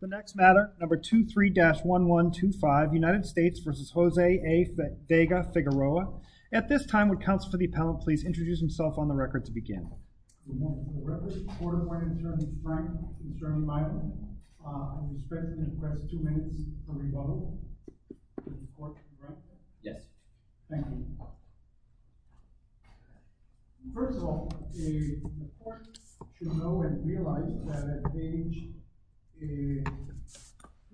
The next matter number 23-1125 United States v. Jose A. Vega-Figueroa. At this time would counsel for the appellant please introduce himself on the record to begin. Good morning. For the record, the court appointed attorney Frank and attorney Michael. I'm expecting to request two minutes for rebuttal. Yes. Thank you. First of all, the court should know and realize that at the age of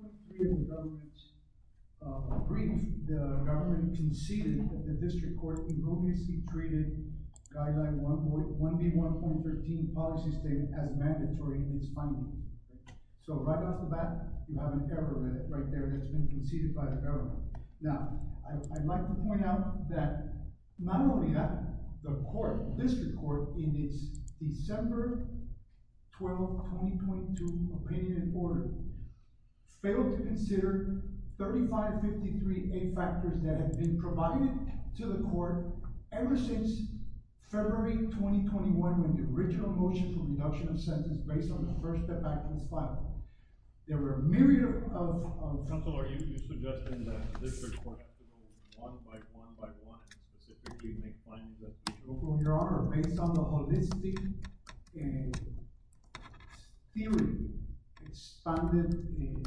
23 in the government's brief, the government conceded that the district court can only treat guideline 1B.1.13 policy statement as mandatory in its finding. So right off the bat, you have an error right there that's been conceded by the government. Now I'd like to point out that not only that, the court, the district court in its December 12, 2022 opinion and order failed to consider 3553A factors that have been provided to the court ever since February 2021 when the original motion for reduction of sentence based on the first effect was filed. There were a myriad of... Counselor, are you suggesting that the district court has to go one by one by one and specifically make findings that... Your Honor, based on the holistic theory expanded in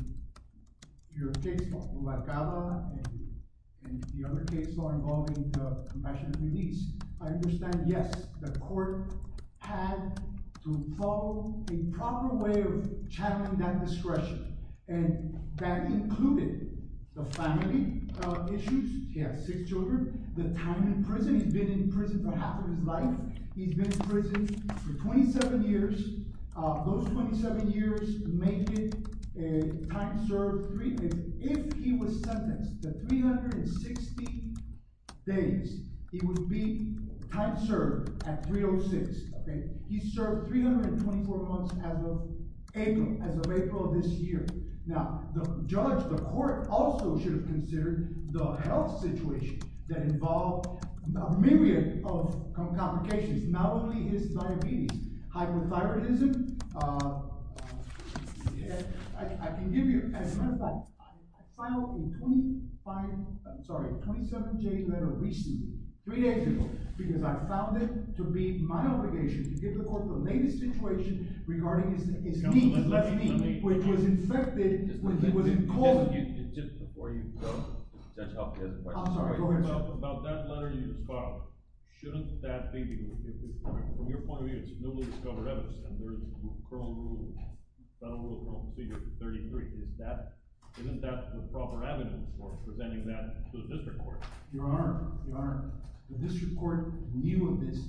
your case law, and the other case law involving compassionate release, I understand, yes, the court had to follow a proper way of channeling that discretion. And that included the family issues. He has six children. The time in prison, he's been in prison for half of his life. He's been in prison for 27 years. Those 27 years make it a time served... If he was sentenced to 360 days, he would be time served at 306. He served 324 months as of April of this year. Now the judge, the court also should have considered the health situation that involved a myriad of complications, not only his diabetes, hyperthyroidism. I can give you... As a matter of fact, I filed a 27-J letter recently, three days ago, because I found it to be my obligation to give the court the latest situation regarding his knee, his left knee, which was infected when he was in court. Just before you go, Judge, I'll ask a question. I'm sorry, go ahead, Judge. About that letter you just filed, shouldn't that be... From your point of view, it's newly discovered evidence, and there's a federal rule, Federal Rule 33. Isn't that the proper evidence for presenting that to the district court? Your Honor, the district court knew of this.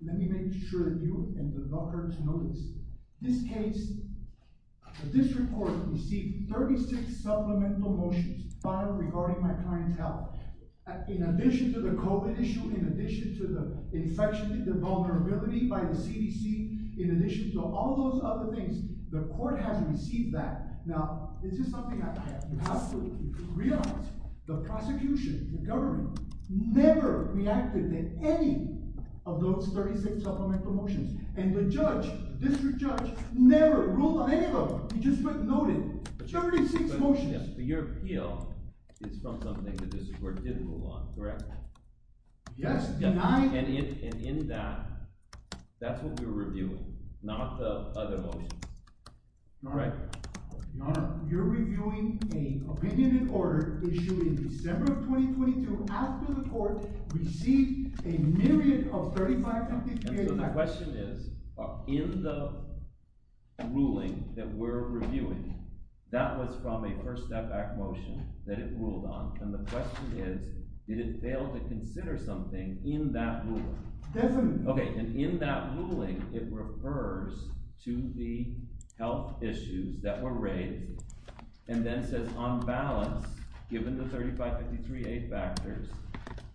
Let me make sure that you and the doctors know this. This case, the district court received 36 supplemental motions filed regarding my client's in addition to the COVID issue, in addition to the infection, the vulnerability by the CDC, in addition to all those other things, the court has received that. Now, this is something I have to absolutely realize. The prosecution, the government, never reacted to any of those 36 supplemental motions, and the judge, the district judge, never ruled on any of them. He just noted 36 motions. Your appeal is from something that the district court did rule on, correct? Yes, and in that, that's what we're reviewing, not the other motions. Your Honor, you're reviewing an opinion in order issued in December of 2022, after the court received a myriad of 35... The question is, in the ruling that we're reviewing, that was from a first step back motion that it ruled on, and the question is, did it fail to consider something in that ruling? Okay, and in that ruling, it refers to the health issues that were raised, and then says, on balance, given the 3553A factors,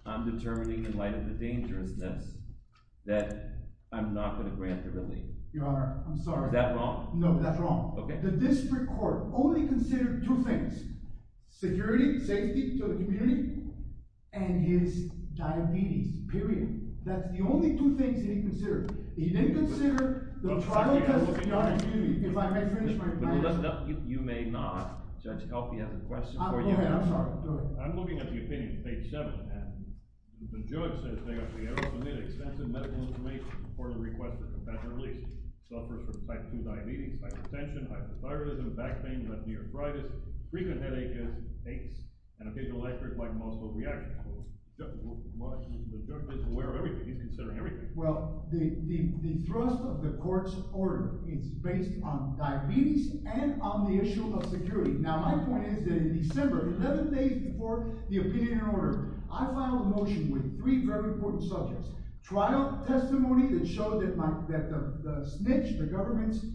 I'm determining, in light of the injuriousness, that I'm not going to grant the relief. Your Honor, I'm sorry. Is that wrong? No, that's wrong. The district court only considered two things, security, safety to the community, and his diabetes, period. That's the only two things that he considered. He didn't consider the travel costs to the community. If I may finish my question... You may not. Judge, help me, I have a question for you. Go ahead, I'm sorry. I'm looking at the opinion, page 7, and the judge says they have to submit extensive medical information before the request for compassionate release. Suffers from type 2 diabetes, hypertension, hypothyroidism, back pain, left knee arthritis, frequent headaches, aches, and a visual-electric-like muscle reaction. The judge is aware of everything. He's considering everything. Well, the thrust of the court's order is based on diabetes and on the issue of security. Now, my point is that in December, 11 days before the opinion and order, I filed a motion with three very important subjects. Trial testimony that showed that the snitch, the government's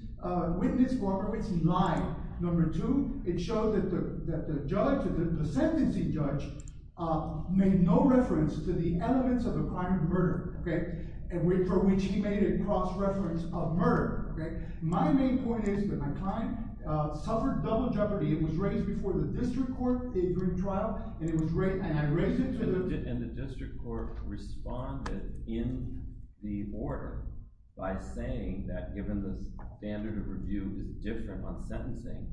witness, cooperates in lying. Number two, it showed that the judge, the sentencing judge, made no reference to the elements of a crime of murder, for which he made a cross-reference of murder. My main point is that my client suffered double jeopardy. It was raised before the district court during trial. And the district court responded in the order by saying that, given the standard of review is different on sentencing,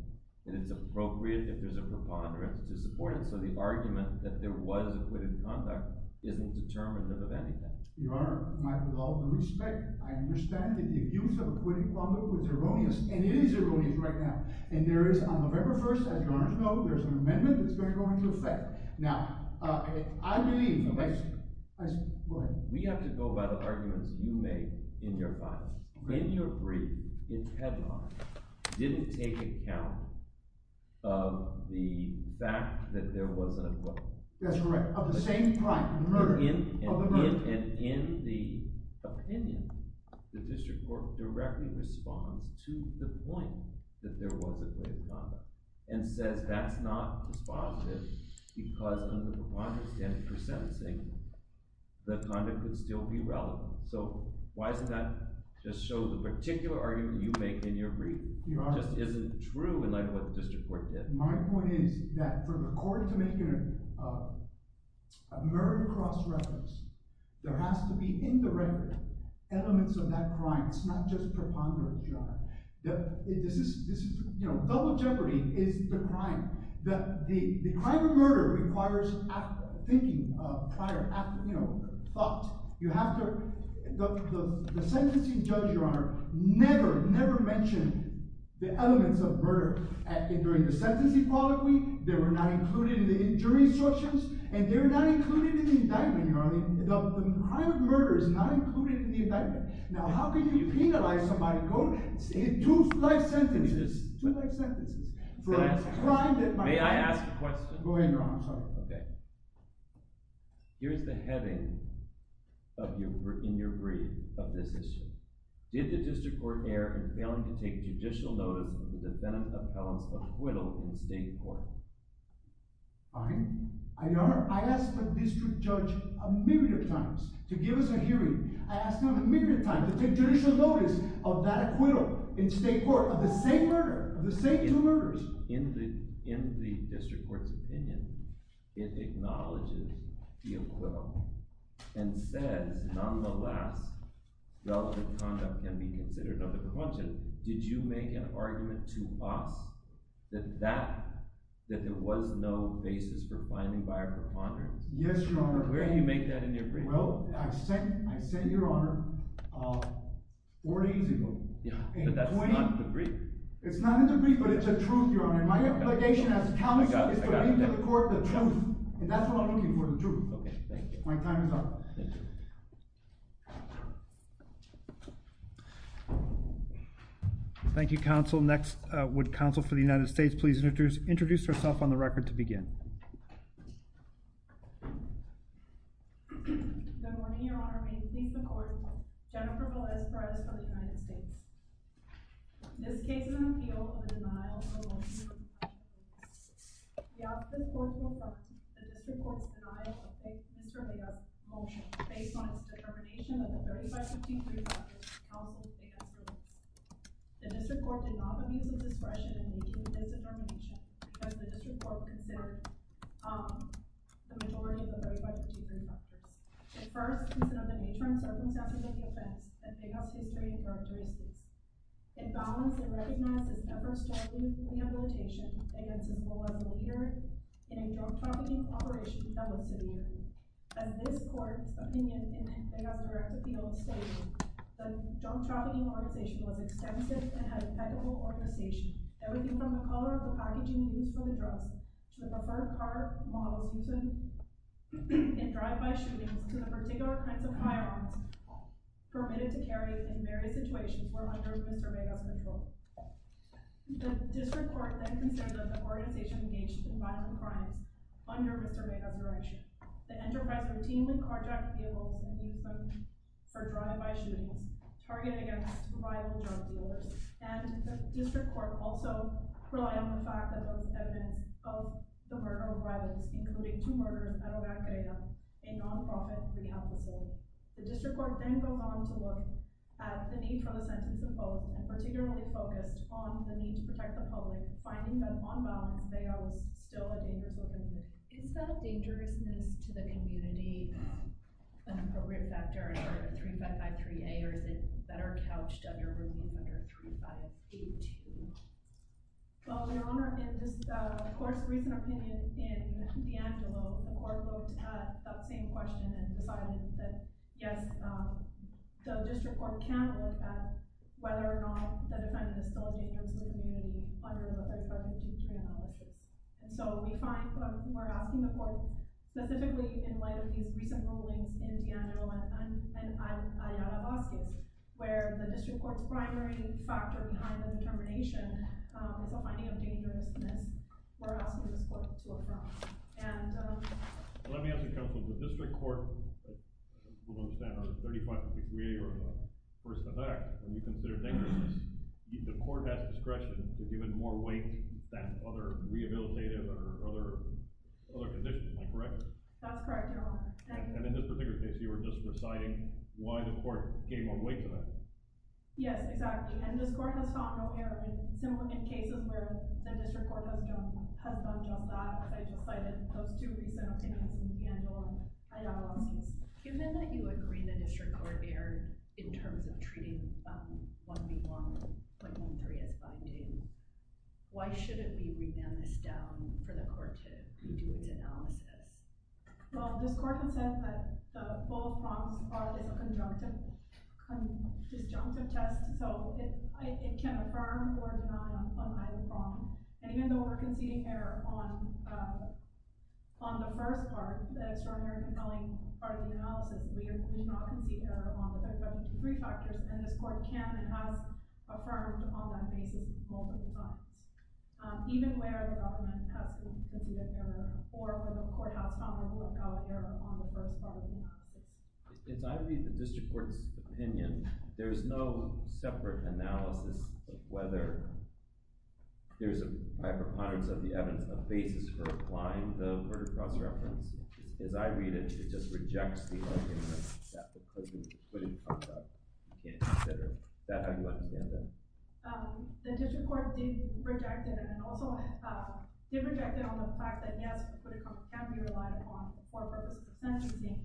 and it's appropriate if there's a preponderance to support it. So the argument that there was acquitted conduct isn't determinative of anything. Your Honor, with all due respect, I understand that the abuse of acquitted conduct was erroneous, and it is erroneous right now. And there is, on November 1st, as your Honor knows, there's an amendment that's going to go into effect. Now, I believe... We have to go by the arguments you made in your file. In your brief, its headline didn't take account of the fact that there was an acquittal. That's right, of the same crime, murder, of a murderer. And in the opinion, the district court directly responds to the point that there was acquitted conduct, and says that's not responsive, because under the proponderance standard for sentencing, the conduct could still be relevant. So why doesn't that just show the particular argument you make in your brief? Your Honor... It just isn't true in light of what the district court did. My point is that for the court to make a murder-cross-reference, there has to be indirect elements of that crime. It's not just preponderance, your Honor. Double jeopardy is the crime. The crime of murder requires thinking prior, you know, thought. You have to... The sentencing judge, your Honor, never, never mentioned the elements of murder during the sentencing prologue. They were not included in the injury instructions, and they're not included in the indictment, your Honor. The crime of murder is not included in the indictment. Now, how can you penalize somebody, quote, in two life sentences? Two life sentences for a crime that... May I ask a question? Go ahead, your Honor, I'm sorry. Okay. Here's the heading in your brief of this issue. Did the district court err in failing to take judicial notice of the defendant appellant's acquittal in state court? All right, your Honor, I asked the district judge a myriad of times to give us a hearing. I asked him a myriad of times to take judicial notice of that acquittal in state court of the same murder, of the same two murders. In the district court's opinion, it acknowledges the acquittal and says, nonetheless, relative conduct can be considered under the content. Did you make an argument to us that there was no basis for finding by a preponderance? Yes, your Honor. Where do you make that in your brief? Well, I sent, your Honor, four days ago. Yeah, but that's not in the brief. It's not in the brief, but it's a truth, your Honor. My obligation as a counsel is to bring to the court the truth, and that's what I'm looking for, the truth. Okay, thank you. My time is up. Thank you, counsel. Next, would counsel for the United States please introduce herself on the record to begin? Good morning, your Honor. May it please the court. Jennifer Velez Perez of the United States. This case is an appeal of a denial of a motion. The opposite court will judge the district court's denial of a case. This is really a motion based on its determination that the 3553 factors were counseled against her. The district court did not have use of discretion in making this determination because the district court considered the majority of the 3553 factors. At first, it's another nature and circumstance of the offense that begets history and characteristics. It balances and recognizes efforts to remove rehabilitation against a former leader in a drug trafficking operation that was severe. As this court's opinion in Vega's direct appeal stated, the drug trafficking organization was extensive and had impeccable organization. Everything from the color of the packaging used for the drugs, to the preferred car models used in drive-by shootings, to the particular kinds of firearms permitted to carry in various situations were under Mr. Vega's control. The district court then considered the organization engaged in violent crimes under Mr. Vega's direction. The enterprise routinely carjacked vehicles and used them for drive-by shootings, targeted against violent drug dealers. And the district court also relied on the fact that there was evidence of the murder of violence, including two murderers at Oaxaca, a non-profit rehab facility. The district court then went on to look at the need for the sentence of both and particularly focused on the need to protect the public, finding that on balance, Vega was still a dangerous woman. Is that dangerousness to the community an appropriate factor in order to 3553A, or is it better couched under ruling under 3582? Well, Your Honor, in this court's recent opinion in DeAngelo, the court looked at that same question and decided that yes, the district court can look at whether or not the defendant is still dangerous to the community under the drug trafficking analysis. And so we find when we're asking the court, specifically in light of these recent rulings in DeAngelo and Ayala-Vazquez, where the district court's primary factor behind the determination is a finding of dangerousness, we're asking this court to affirm. Let me ask you, counsel, the district court will understand under 3553A or first effect, when you consider dangerousness, the court has discretion to give it more weight than other rehabilitative or other conditions, am I correct? That's correct, Your Honor. And in this particular case, you were just reciting why the court gave more weight to that. Yes, exactly. And this court has found no error in similar cases where the district court has done just that. I just cited those two recent opinions in DeAngelo and Ayala-Vazquez. Given that you agree the district court erred in terms of treating 131.13 as a finding, why shouldn't we revamp this down for the court to do its analysis? Well, this court has said that both wrongs are a disjunctive test, so it can affirm or deny on either wrong. And even though we're conceding error on the first part, the extraordinary compelling part of the analysis, we did not concede error on the first three factors. And this court can and has affirmed on that basis multiple times. Even where the government has conceded error, or where the courthouse found a rule of thumb error on the first part of the analysis. As I read the district court's opinion, there's no separate analysis of whether there's a by a preponderance of the evidence, a basis for applying the murder cross-reference. As I read it, it just rejects the argument that the couldn't, you can't consider that. How do you understand that? The district court did reject it, and also did reject it on the fact that yes, accreted conduct can be relied upon for purpose of sentencing.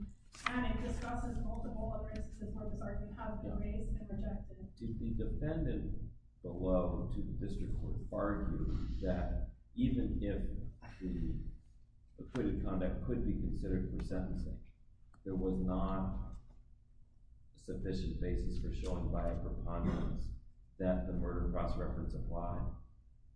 And it discusses multiple erases of where the sergeant has been raised and rejected. Did the defendant below to the district court argue that even if the accreted conduct could be considered for sentencing, there was not a sufficient basis for showing by a preponderance that the murder cross-reference applied?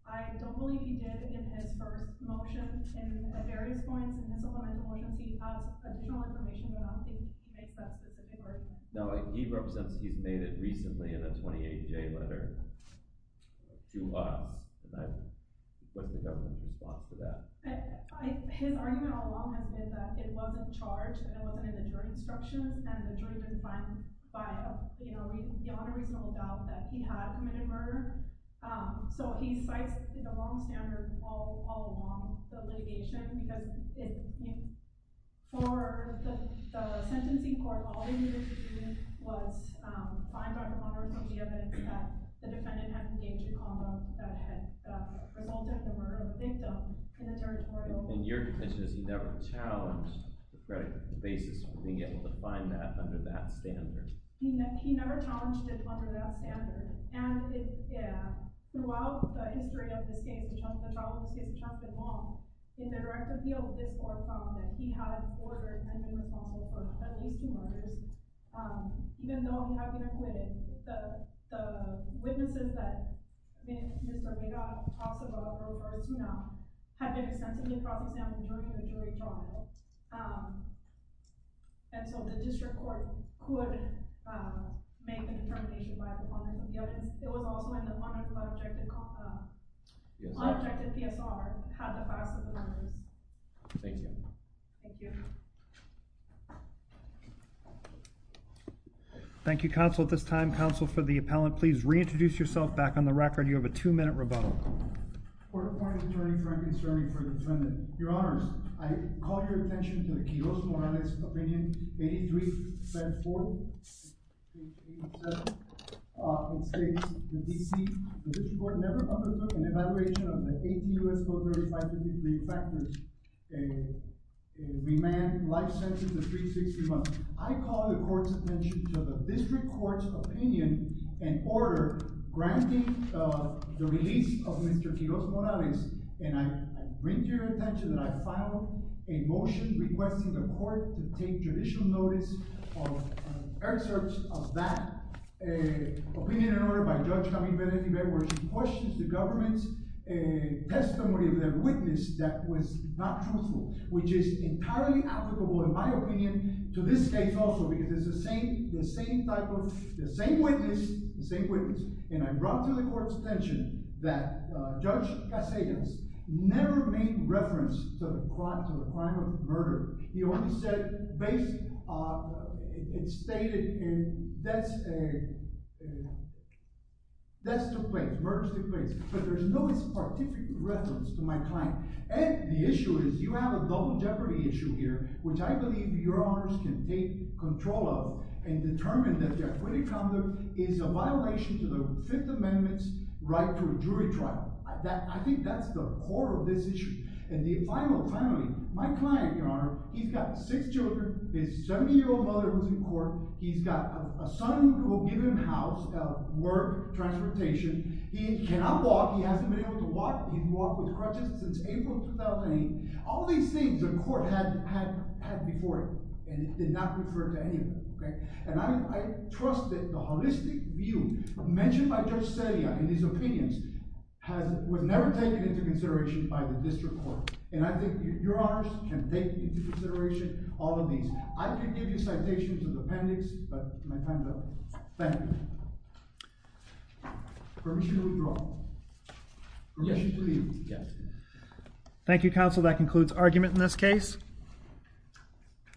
I don't believe he did in his first motion. And at various points in his other motions he has additional information but I don't think he makes that specific argument. No, he represents he's made it recently in a 28-J letter to us. What's the government's response to that? His argument all along has been that it wasn't charged, that it wasn't in the jury instructions, and the jury didn't find beyond a reasonable doubt that he had committed murder. So he cites the wrong standard all along the litigation because for the sentencing court, all they needed to do was find out the controversy evidence that the defendant had engaged in a convo that had resulted in the murder of the victim. In your defense, he never challenged the basis for being able to find that under that standard? He never challenged it under that standard. And throughout the history of this case, the trial of this case, it's not been long in the direct appeal of this court found that he had ordered and been responsible for at least two murders. Even though he had been acquitted, the witnesses that Mr. Vega talks about, Roberto Tuna, had been extensively brought to the stand during the jury trial. And so the district court could make a determination by a defendant. It was also in the one-armed unobjected PSR had the facts of the murders. Thank you. Thank you. Thank you. Counsel, at this time, counsel for the appellant, please reintroduce yourself back on the record. You have a two-minute rebuttal. For the court of attorney, I'm concerned for the defendant. Your honors, I call your attention to the Kiyos Morales opinion, 83-4-87 of the state, the D.C. The district court never undertook an evaluation of the 80 U.S. voters by 53 factors and remand life sentences of 360 months. I call the court's attention to the district court's opinion and order granting the release of Mr. Kiyos Morales. And I bring to your attention that I filed a motion requesting the court to take judicial notice of excerpts of that opinion and order by Judge Camille Benedict-Bebe, where she questions the government's testimony of their witness that was not truthful, which is entirely applicable, in my opinion, to this case also, because it's the same type of, the same witness, the same witness. And I brought to the court's attention that Judge Casillas never made reference to the crime of murder. He only said, based on, it's stated in, deaths took place, murders took place. But there's no specific reference to my client. And the issue is, you have a double jeopardy issue here, which I believe your honors can take control of and determine that jeopardy conduct is a violation to the Fifth Amendment's right to a jury trial. I think that's the core of this issue. And finally, my client, your honor, he's got six children. His 70-year-old mother is in court. He's got a son who will give him a house, work, transportation. He cannot walk. He hasn't been able to walk. He's walked with crutches since April 2008. All these things the court had before him, and it did not refer to any of them, OK? And I trust that the holistic view mentioned by Judge Celia in his opinions was never taken into consideration by the district court. And I think your honors can take into consideration all of these. I can give you citations of appendix, but my time's up. Thank you. Permission to withdraw. Thank you, counsel. That concludes argument in this case.